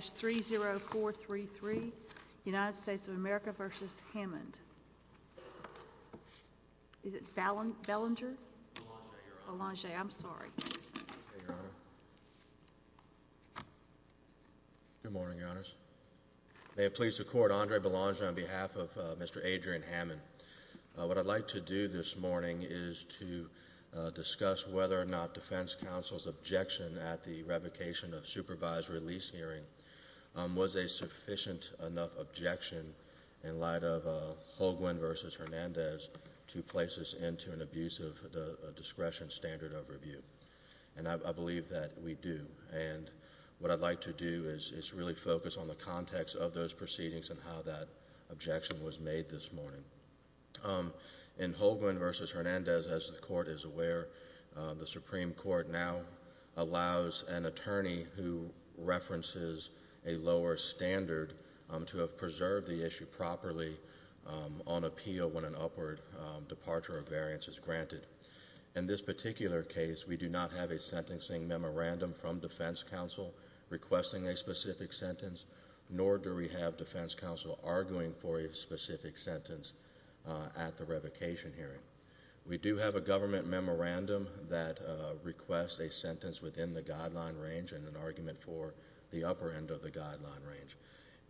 May it please the Court, Andre Belanger on behalf of Mr. Adrian Hammond. What I'd like to do this morning is to discuss whether or not defense counsel's objection at the revocation of supervised release hearing was a sufficient enough objection in light of Holguin v. Hernandez to place this into an abusive discretion standard of review. And I believe that we do. And what I'd like to do is really focus on the context of those proceedings and how that objection was made this morning. In Holguin v. Hernandez, as the Court is aware, the Supreme Court now allows an attorney who references a lower standard to have preserved the issue properly on appeal when an upward departure of variance is granted. In this particular case, we do not have a sentencing memorandum from defense counsel requesting a specific sentence, nor do we have defense counsel arguing for a specific sentence at the revocation hearing. We do have a government memorandum that requests a sentence within the guideline range and an argument for the upper end of the guideline range.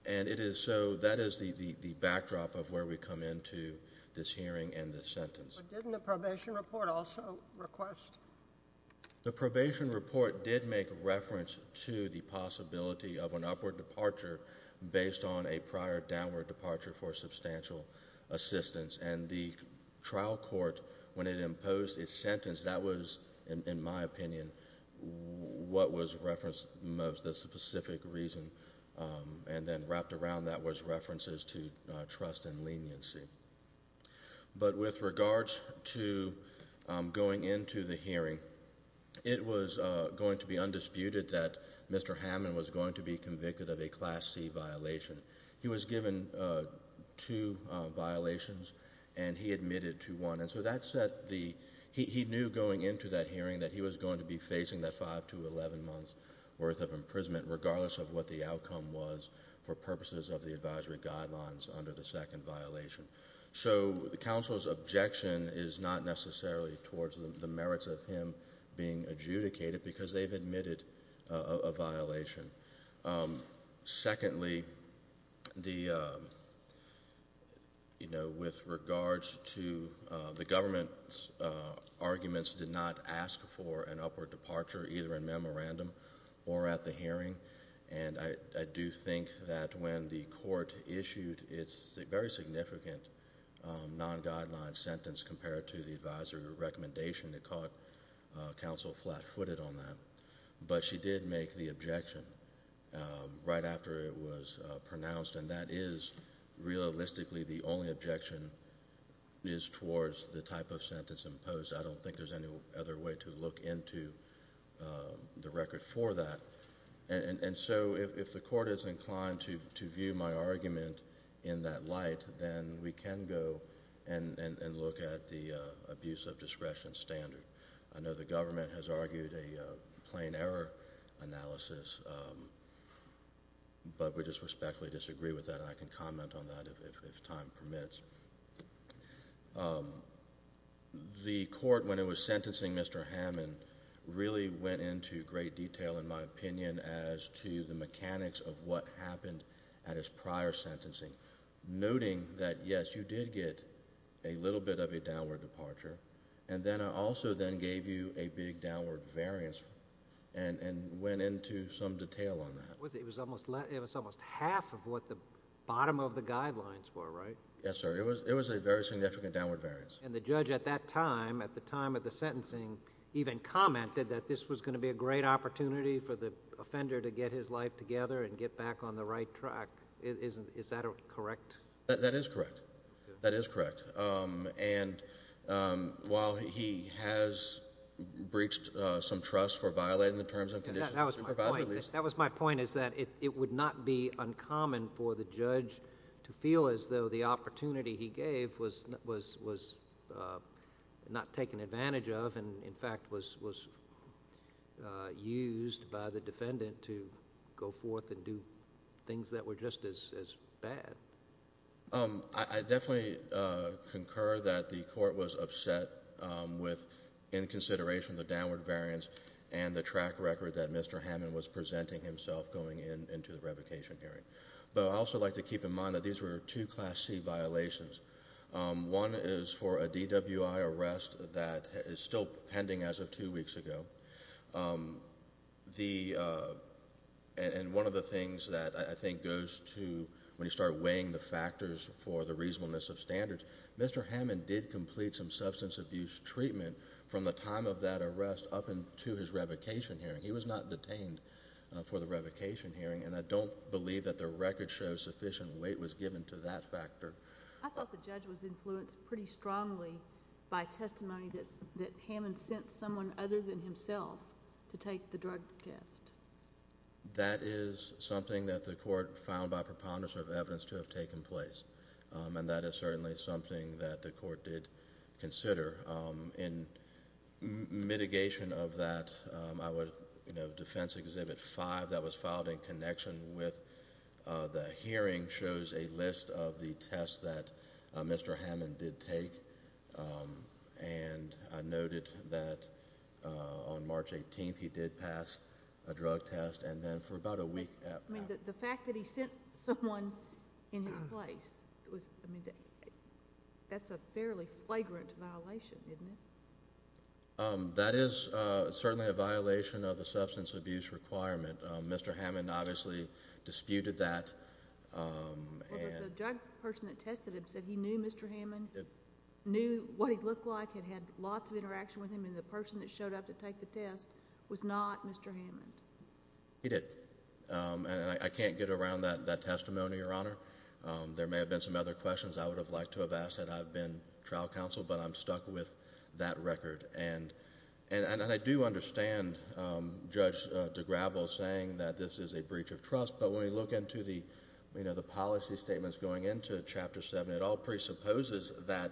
And it is so. That is the backdrop of where we come into this hearing and this sentence. But didn't the probation report also request? The probation report did make reference to the possibility of an upward departure based on a prior downward departure for substantial assistance. And the trial court, when it imposed its sentence, that was, in my opinion, what was referenced as the specific reason. And then wrapped around that was references to trust and leniency. But with regards to going into the hearing, it was going to be undisputed that Mr. Hammond was going to be convicted of a Class C violation. He was given two violations, and he admitted to one. And so that set the—he knew going into that hearing that he was going to be facing that five to 11 months' worth of imprisonment, regardless of what the outcome was, for purposes of the advisory guidelines under the second violation. So counsel's objection is not necessarily towards the merits of him being adjudicated, because they've admitted a violation. Secondly, the—you know, with regards to the government's arguments did not ask for an upward departure, either in memorandum or at the hearing. And I do think that when the court issued its very significant non-guideline sentence compared to the advisory recommendation, it caught counsel flat-footed on that. But she did make the objection right after it was pronounced, and that is, realistically, the only objection is towards the type of sentence imposed. I don't think there's any other way to look into the record for that. And so if the court is inclined to view my argument in that light, then we can go and look at the abuse of discretion standard. I know the government has argued a plain error analysis, but we just respectfully disagree with that, and I can comment on that if time permits. The court, when it was sentencing Mr. Hammond, really went into great detail, in my opinion, as to the mechanics of what happened at his prior sentencing, noting that, yes, you did get a little bit of a downward departure, and then also then gave you a big downward variance, and went into some detail on that. It was almost half of what the bottom of the guidelines were, right? Yes, sir. It was a very significant downward variance. And the judge at that time, at the time of the sentencing, even commented that this was going to be a great opportunity for the offender to get his life together and get back on the right track. Is that correct? That is correct. That is correct. And while he has breached some trust for violating the Terms and Conditions of Supervisory Release— That was my point. That was my point, is that it would not be uncommon for the judge to feel as though the opportunity he gave was not taken advantage of, and, in fact, was used by the defendant to go forth and do things that were just as bad. I definitely concur that the court was upset with, in consideration of the downward variance and the track record that Mr. Hammond was presenting himself going into the revocation hearing. But I'd also like to keep in mind that these were two Class C violations. One is for a DWI arrest that is still pending as of two weeks ago. And one of the things that I think goes to when you start weighing the factors for the reasonableness of standards, Mr. Hammond did complete some substance abuse treatment from the time of that arrest up into his revocation hearing. He was not detained for the revocation hearing, and I don't believe that the record shows sufficient weight was given to that factor. I thought the judge was influenced pretty strongly by testimony that Hammond sent someone other than himself to take the drug test. That is something that the court found by preponderance of evidence to have taken place, and that is certainly something that the court did consider. In mitigation of that, Defense Exhibit 5 that was filed in connection with the hearing shows a list of the tests that Mr. Hammond did take. And I noted that on March 18th, he did pass a drug test, and then for about a week after that. The fact that he sent someone in his place, that's a fairly flagrant violation, isn't it? That is certainly a violation of the substance abuse requirement. Mr. Hammond obviously disputed that. The drug person that tested him said he knew Mr. Hammond, knew what he looked like, had lots of interaction with him, and the person that showed up to take the test was not Mr. Hammond. He did. And I can't get around that testimony, Your Honor. There may have been some other questions I would have liked to have asked, and I've been trial counsel, but I'm stuck with that record. And I do understand Judge DeGravel saying that this is a breach of trust, but when we look into the policy statements going into Chapter 7, it all presupposes that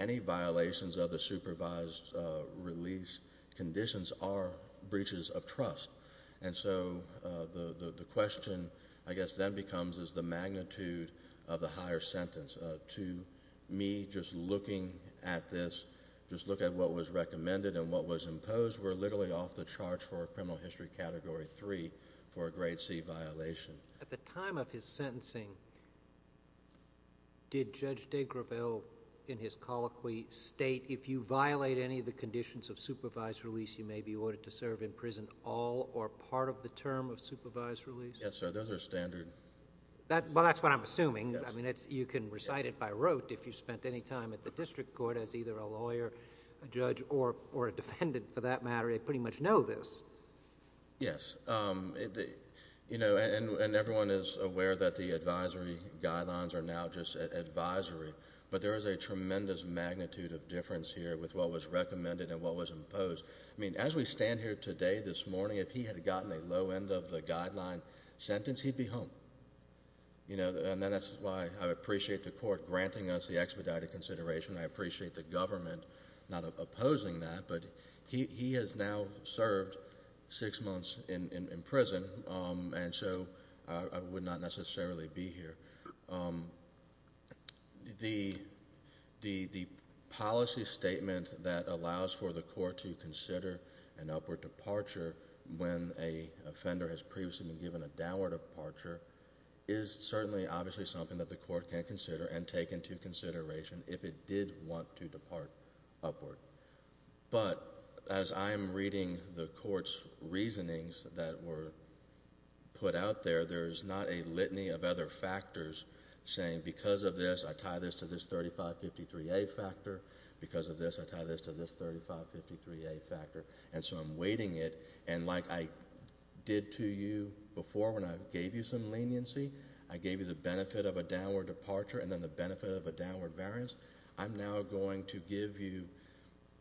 any violations of the supervised release conditions are breaches of trust. And so the question, I guess, then becomes is the magnitude of the higher sentence. To me, just looking at this, just looking at what was recommended and what was imposed, we're literally off the charts for criminal history Category 3 for a Grade C violation. At the time of his sentencing, did Judge DeGravel, in his colloquy, state, if you violate any of the conditions of supervised release, you may be ordered to serve in prison all or part of the term of supervised release? Yes, sir. Those are standard... Well, that's what I'm assuming. Yes. I mean, you can recite it by rote if you spent any time at the district court as either a lawyer, a judge, or a defendant for that matter. They pretty much know this. Yes. You know, and everyone is aware that the advisory guidelines are now just advisory, but there is a tremendous magnitude of difference here with what was recommended and what was imposed. I mean, as we stand here today, this morning, if he had gotten a low end of the guideline sentence, he'd be home. That's why I appreciate the court granting us the expedited consideration. I appreciate the government not opposing that, but he has now served six months in prison, and so I would not necessarily be here. The policy statement that allows for the court to consider an upward departure when a offender has previously been given a downward departure is certainly, obviously, something that the court can consider and take into consideration if it did want to depart upward. But as I am reading the court's reasonings that were put out there, there is not a litany of other factors saying because of this, I tie this to this 3553A factor. Because of this, I tie this to this 3553A factor, and so I'm weighting it, and like I did to you before when I gave you some leniency, I gave you the benefit of a downward departure and then the benefit of a downward variance, I'm now going to give you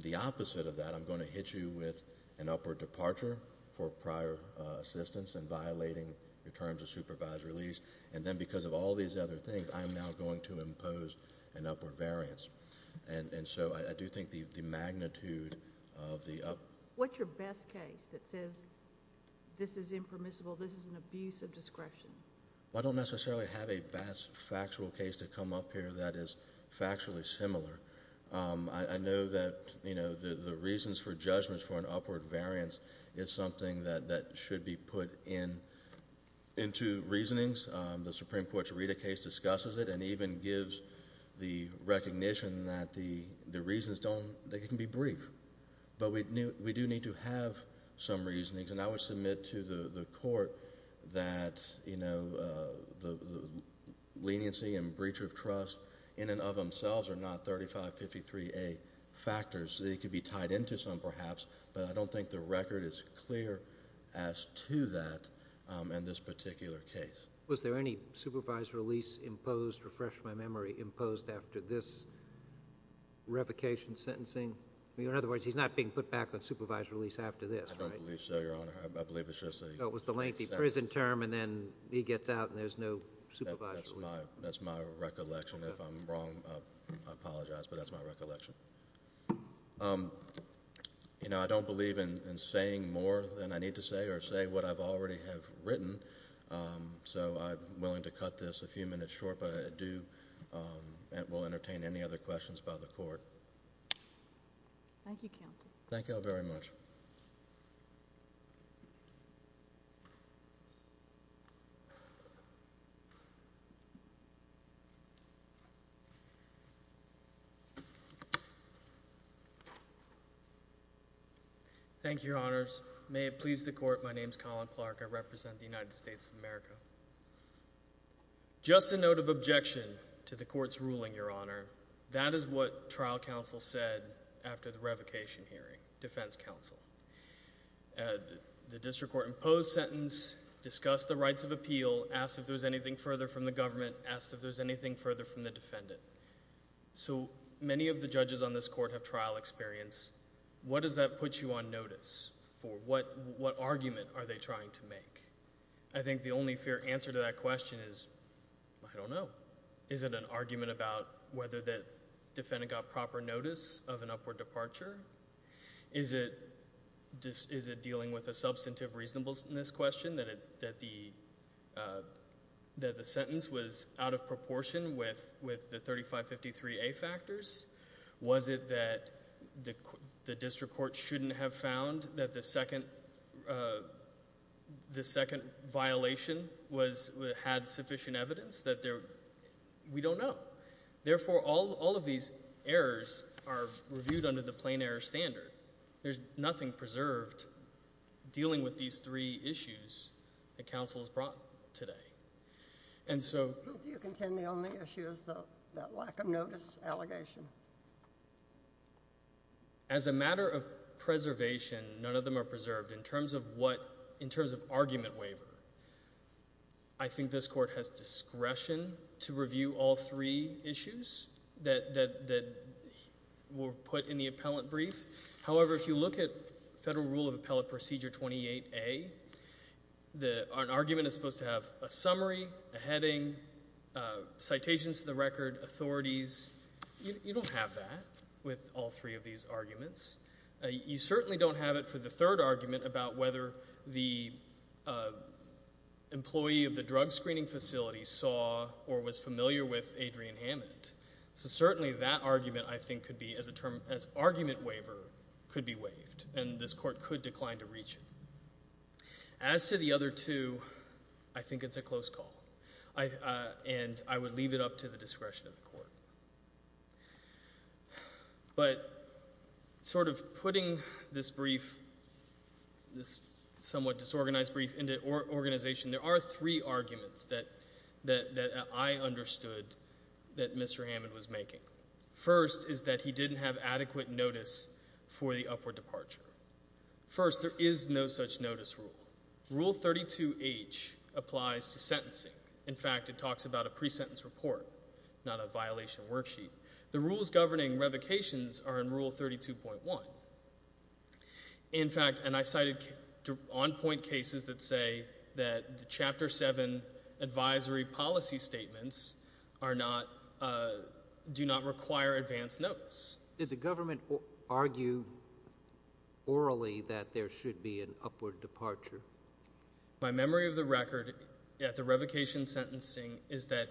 the opposite of that. I'm going to hit you with an upward departure for prior assistance and violating your terms of supervised release, and then because of all these other things, I'm now going to impose an upward variance. And so I do think the magnitude of the up... What's your best case that says this is impermissible, this is an abuse of discretion? I don't necessarily have a best factual case to come up here that is factually similar. I know that the reasons for judgments for an upward variance is something that should be put into reasonings. The Supreme Court's Rita case discusses it and even gives the recognition that the reasons don't... they can be brief. But we do need to have some reasonings, and I would submit to the court that the leniency and breacher of trust in and of themselves are not 3553A factors, they could be tied into some perhaps, but I don't think the record is clear as to that in this particular case. Was there any supervised release imposed, refresh my memory, imposed after this revocation sentencing? In other words, he's not being put back on supervised release after this, right? I don't believe so, Your Honor. I believe it's just a... Oh, it was the lengthy prison term and then he gets out and there's no supervised release. That's my recollection. If I'm wrong, I apologize, but that's my recollection. I don't believe in saying more than I need to say or say what I've already have written, so I'm willing to cut this a few minutes short, but it will entertain any other questions by the court. Thank you, Counsel. Thank you, Counsel. Thank you all very much. Thank you, Your Honors. May it please the court, my name is Colin Clark, I represent the United States of America. Just a note of objection to the court's ruling, Your Honor. That is what trial counsel said after the revocation hearing, defense counsel. The district court imposed sentence, discussed the rights of appeal, asked if there's anything further from the government, asked if there's anything further from the defendant. So many of the judges on this court have trial experience. What does that put you on notice for? What argument are they trying to make? I think the only fair answer to that question is, I don't know. Is it an argument about whether the defendant got proper notice of an upward departure? Is it dealing with a substantive reasonableness question that the sentence was out of proportion with the 3553A factors? Was it that the district court shouldn't have found that the second violation had sufficient evidence? We don't know. Therefore, all of these errors are reviewed under the plain error standard. There's nothing preserved dealing with these three issues that counsel has brought today. Do you contend the only issue is that lack of notice allegation? As a matter of preservation, none of them are preserved in terms of argument waiver. I think this court has discretion to review all three issues that were put in the appellant brief. However, if you look at Federal Rule of Appellate Procedure 28A, an argument is supposed to have a summary, a heading, citations to the record, authorities. You don't have that with all three of these arguments. You certainly don't have it for the third argument about whether the employee of the drug screening facility saw or was familiar with Adrian Hammond. So certainly that argument, I think, could be, as argument waiver, could be waived, and this court could decline to reach it. As to the other two, I think it's a close call, and I would leave it up to the discretion of the court. But sort of putting this brief, this somewhat disorganized brief, into organization, there are three arguments that I understood that Mr. Hammond was making. First is that he didn't have adequate notice for the upward departure. First, there is no such notice rule. Rule 32H applies to sentencing. In fact, it talks about a pre-sentence report, not a violation worksheet. The rules governing revocations are in Rule 32.1. In fact, and I cited on-point cases that say that the Chapter 7 advisory policy statements are not, do not require advanced notice. Did the government argue orally that there should be an upward departure? My memory of the record at the revocation sentencing is that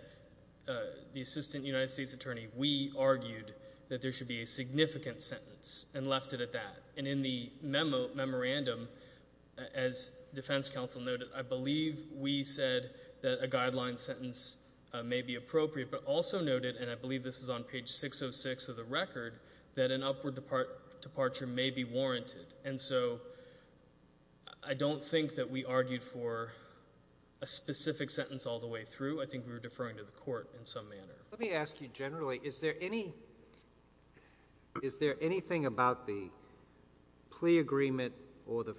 the Assistant United States Attorney, we argued that there should be a significant sentence and left it at that. And in the memo, memorandum, as Defense Counsel noted, I believe we said that a guideline sentence may be appropriate, but also noted, and I believe this is on page 606 of the record, that an upward departure may be warranted. And so I don't think that we argued for a specific sentence all the way through. I think we were deferring to the court in some manner. Let me ask you generally, is there any, is there anything about the plea agreement or the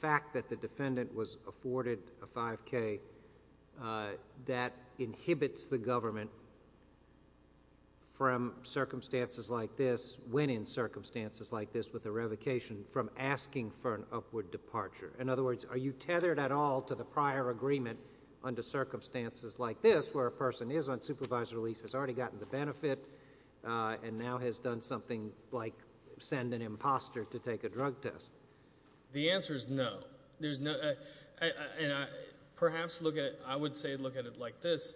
fact that the defendant was afforded a 5K that inhibits the government from circumstances like this, when in circumstances like this with a revocation, from asking for an upward departure? In other words, are you tethered at all to the prior agreement under circumstances like this where a person is on supervisory release, has already gotten the benefit, and now has done something like send an imposter to take a drug test? The answer is no. There's no, and perhaps look at it, I would say look at it like this.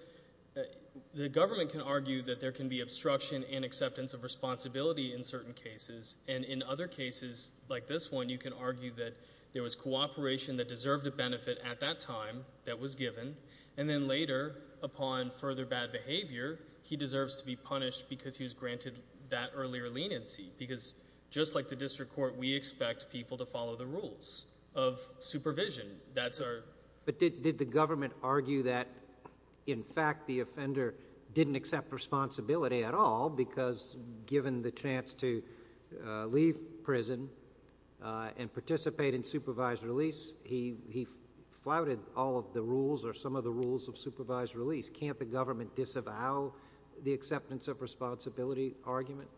The government can argue that there can be obstruction and acceptance of responsibility in certain cases, and in other cases, like this one, you can argue that there was cooperation that deserved a benefit at that time that was given, and then later, upon further bad behavior, he deserves to be punished because he was granted that earlier leniency. Because just like the district court, we expect people to follow the rules of supervision. That's our... But did the government argue that, in fact, the offender didn't accept responsibility at all because given the chance to leave prison and participate in supervised release, he flouted all of the rules or some of the rules of supervised release. Can't the government disavow the acceptance of responsibility argument?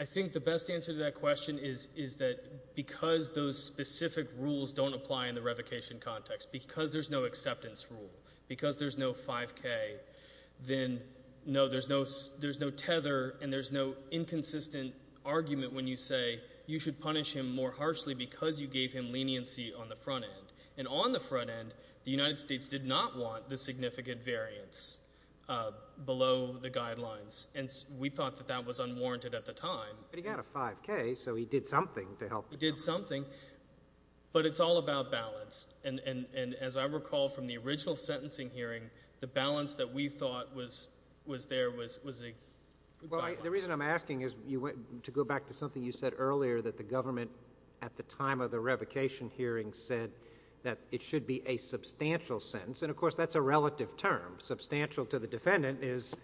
I think the best answer to that question is that because those specific rules don't apply in the revocation context, because there's no acceptance rule, because there's no 5K, then no, there's no tether, and there's no inconsistent argument when you say you should punish him more harshly because you gave him leniency on the front end, and on the front end. The United States did not want the significant variance below the guidelines, and we thought that that was unwarranted at the time. But he got a 5K, so he did something to help... He did something, but it's all about balance, and as I recall from the original sentencing hearing, the balance that we thought was there was a... Well, the reason I'm asking is to go back to something you said earlier that the government, at the time of the revocation hearing, said that it should be a substantial sentence. And of course, that's a relative term. Substantial to the defendant is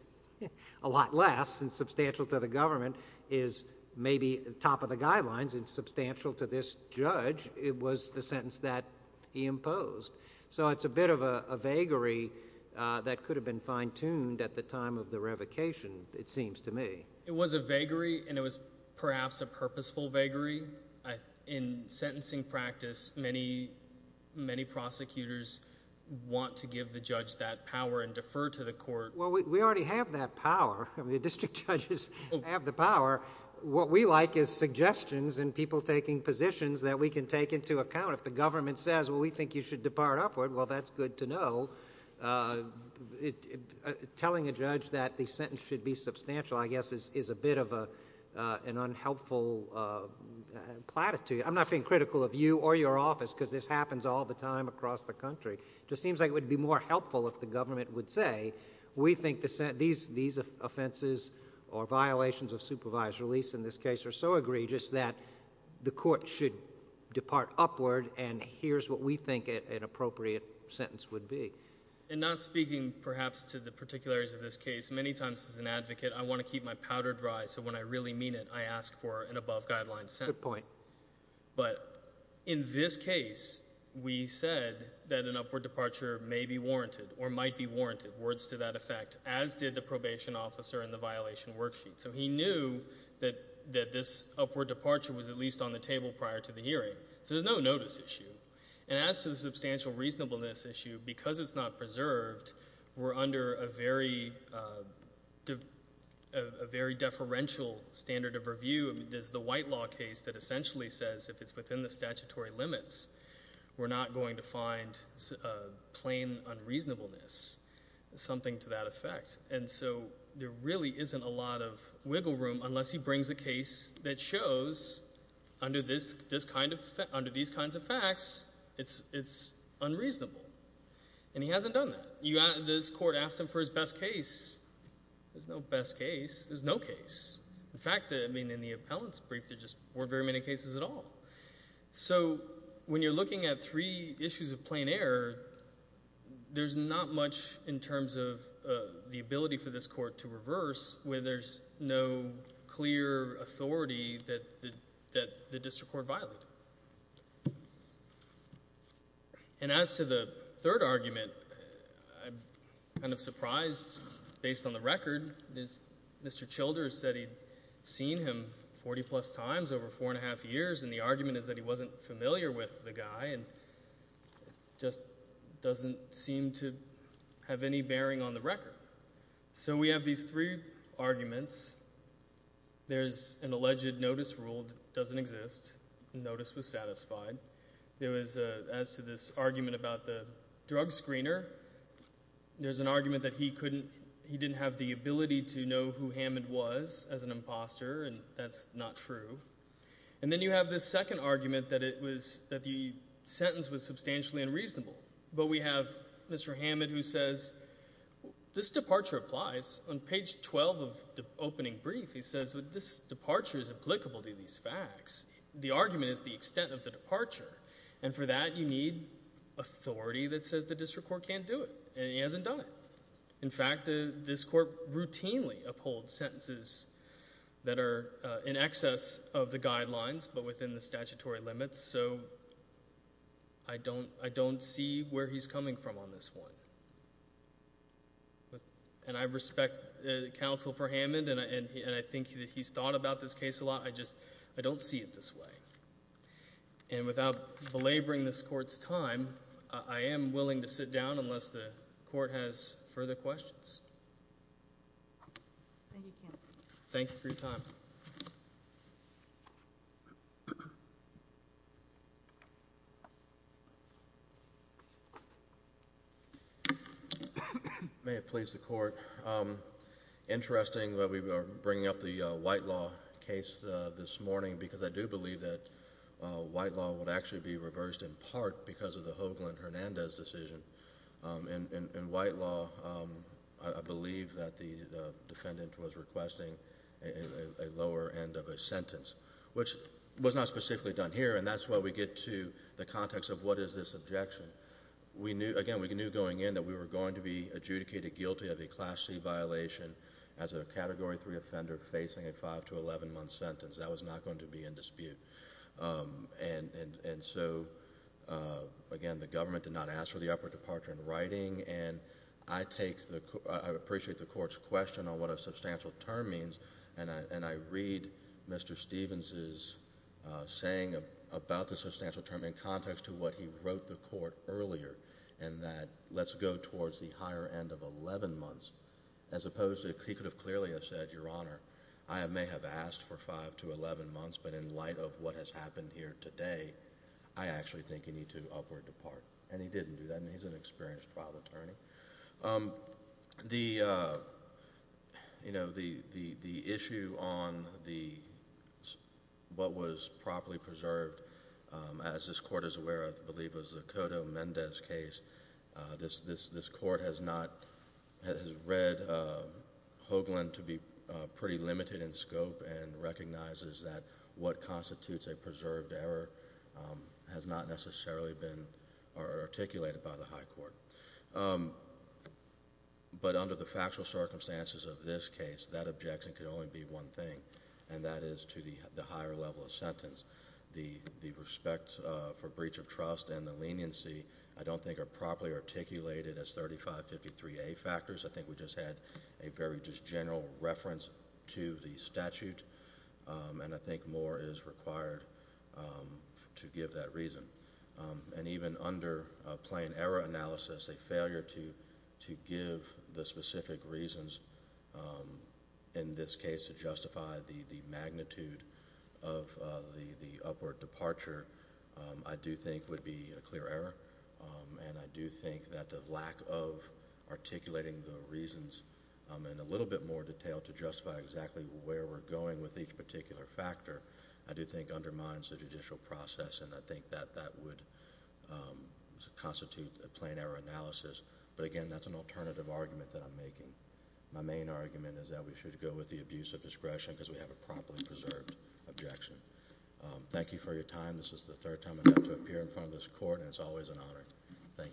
a lot less than substantial to the government is maybe top of the guidelines, and substantial to this judge was the sentence that he imposed. So it's a bit of a vagary that could have been fine-tuned at the time of the revocation, it seems to me. It was a vagary, and it was perhaps a purposeful vagary. In sentencing practice, many, many prosecutors want to give the judge that power and defer to the court. Well, we already have that power. The district judges have the power. What we like is suggestions and people taking positions that we can take into account. If the government says, well, we think you should depart upward, well, that's good to know. So telling a judge that the sentence should be substantial, I guess, is a bit of an unhelpful platitude. I'm not being critical of you or your office, because this happens all the time across the country. It just seems like it would be more helpful if the government would say, we think these offenses or violations of supervised release in this case are so egregious that the court should depart upward, and here's what we think an appropriate sentence would be. And not speaking, perhaps, to the particularities of this case, many times as an advocate, I want to keep my powder dry, so when I really mean it, I ask for an above-guideline sentence. Good point. But in this case, we said that an upward departure may be warranted or might be warranted, words to that effect, as did the probation officer in the violation worksheet. So he knew that this upward departure was at least on the table prior to the hearing. So there's no notice issue. And as to the substantial reasonableness issue, because it's not preserved, we're under a very deferential standard of review. There's the white law case that essentially says if it's within the statutory limits, we're not going to find plain unreasonableness, something to that effect. And so there really isn't a lot of wiggle room unless he brings a case that shows, under these kinds of facts, it's unreasonable, and he hasn't done that. This court asked him for his best case, there's no best case, there's no case. In fact, I mean, in the appellant's brief, there just weren't very many cases at all. So when you're looking at three issues of plain error, there's not much in terms of the ability for this court to reverse when there's no clear authority that the district court violated. And as to the third argument, I'm kind of surprised, based on the record, Mr. Childers said he'd seen him 40-plus times over four and a half years, and the argument is that he wasn't familiar with the guy, and just doesn't seem to have any bearing on the record. So we have these three arguments. There's an alleged notice ruled doesn't exist, the notice was satisfied. There was, as to this argument about the drug screener, there's an argument that he didn't have the ability to know who Hammond was as an imposter, and that's not true. And then you have this second argument that the sentence was substantially unreasonable. But we have Mr. Hammond who says, this departure applies. On page 12 of the opening brief, he says, this departure is applicable to these facts. The argument is the extent of the departure. And for that, you need authority that says the district court can't do it, and he hasn't done it. In fact, this court routinely upholds sentences that are in excess of the guidelines, but within the statutory limits, so I don't see where he's coming from on this one. And I respect counsel for Hammond, and I think that he's thought about this case a lot, I don't see it this way. And without belaboring this court's time, I am willing to sit down unless the court has further questions. Thank you, counsel. Thank you for your time. May it please the court, interesting that we are bringing up the white law case this morning. White law would actually be reversed in part because of the Hoagland-Hernandez decision. In white law, I believe that the defendant was requesting a lower end of a sentence, which was not specifically done here, and that's why we get to the context of what is this objection. Again, we knew going in that we were going to be adjudicated guilty of a Class C violation as a Category 3 offender facing a 5 to 11 month sentence. That was not going to be in dispute. And so, again, the government did not ask for the upward departure in writing, and I appreciate the court's question on what a substantial term means, and I read Mr. Stevens's saying about the substantial term in context to what he wrote the court earlier, and that let's go towards the higher end of 11 months, as opposed to he could have clearly have said, Your Honor, I may have asked for 5 to 11 months, but in light of what has happened here today, I actually think you need to upward depart, and he didn't do that, and he's an experienced trial attorney. The issue on what was properly preserved, as this court is aware of, I believe it was the Cotto-Mendez case, this court has read Hoagland to be pretty limited in scope and recognizes that what constitutes a preserved error has not necessarily been articulated by the high court. But under the factual circumstances of this case, that objection could only be one thing, and that is to the higher level of sentence. The respect for breach of trust and the leniency I don't think are properly articulated as 3553A factors. I think we just had a very just general reference to the statute, and I think more is required to give that reason. And even under plain error analysis, a failure to give the specific reasons in this case to justify the magnitude of the upward departure, I do think would be a clear error, and I do think that the lack of articulating the reasons in a little bit more detail to justify exactly where we're going with each particular factor, I do think undermines the judicial process and I think that that would constitute a plain error analysis, but again, that's an alternative argument that I'm making. My main argument is that we should go with the abuse of discretion because we have a properly preserved objection. Thank you for your time. This is the third time I've had to appear in front of this court, and it's always an honor. Thank you.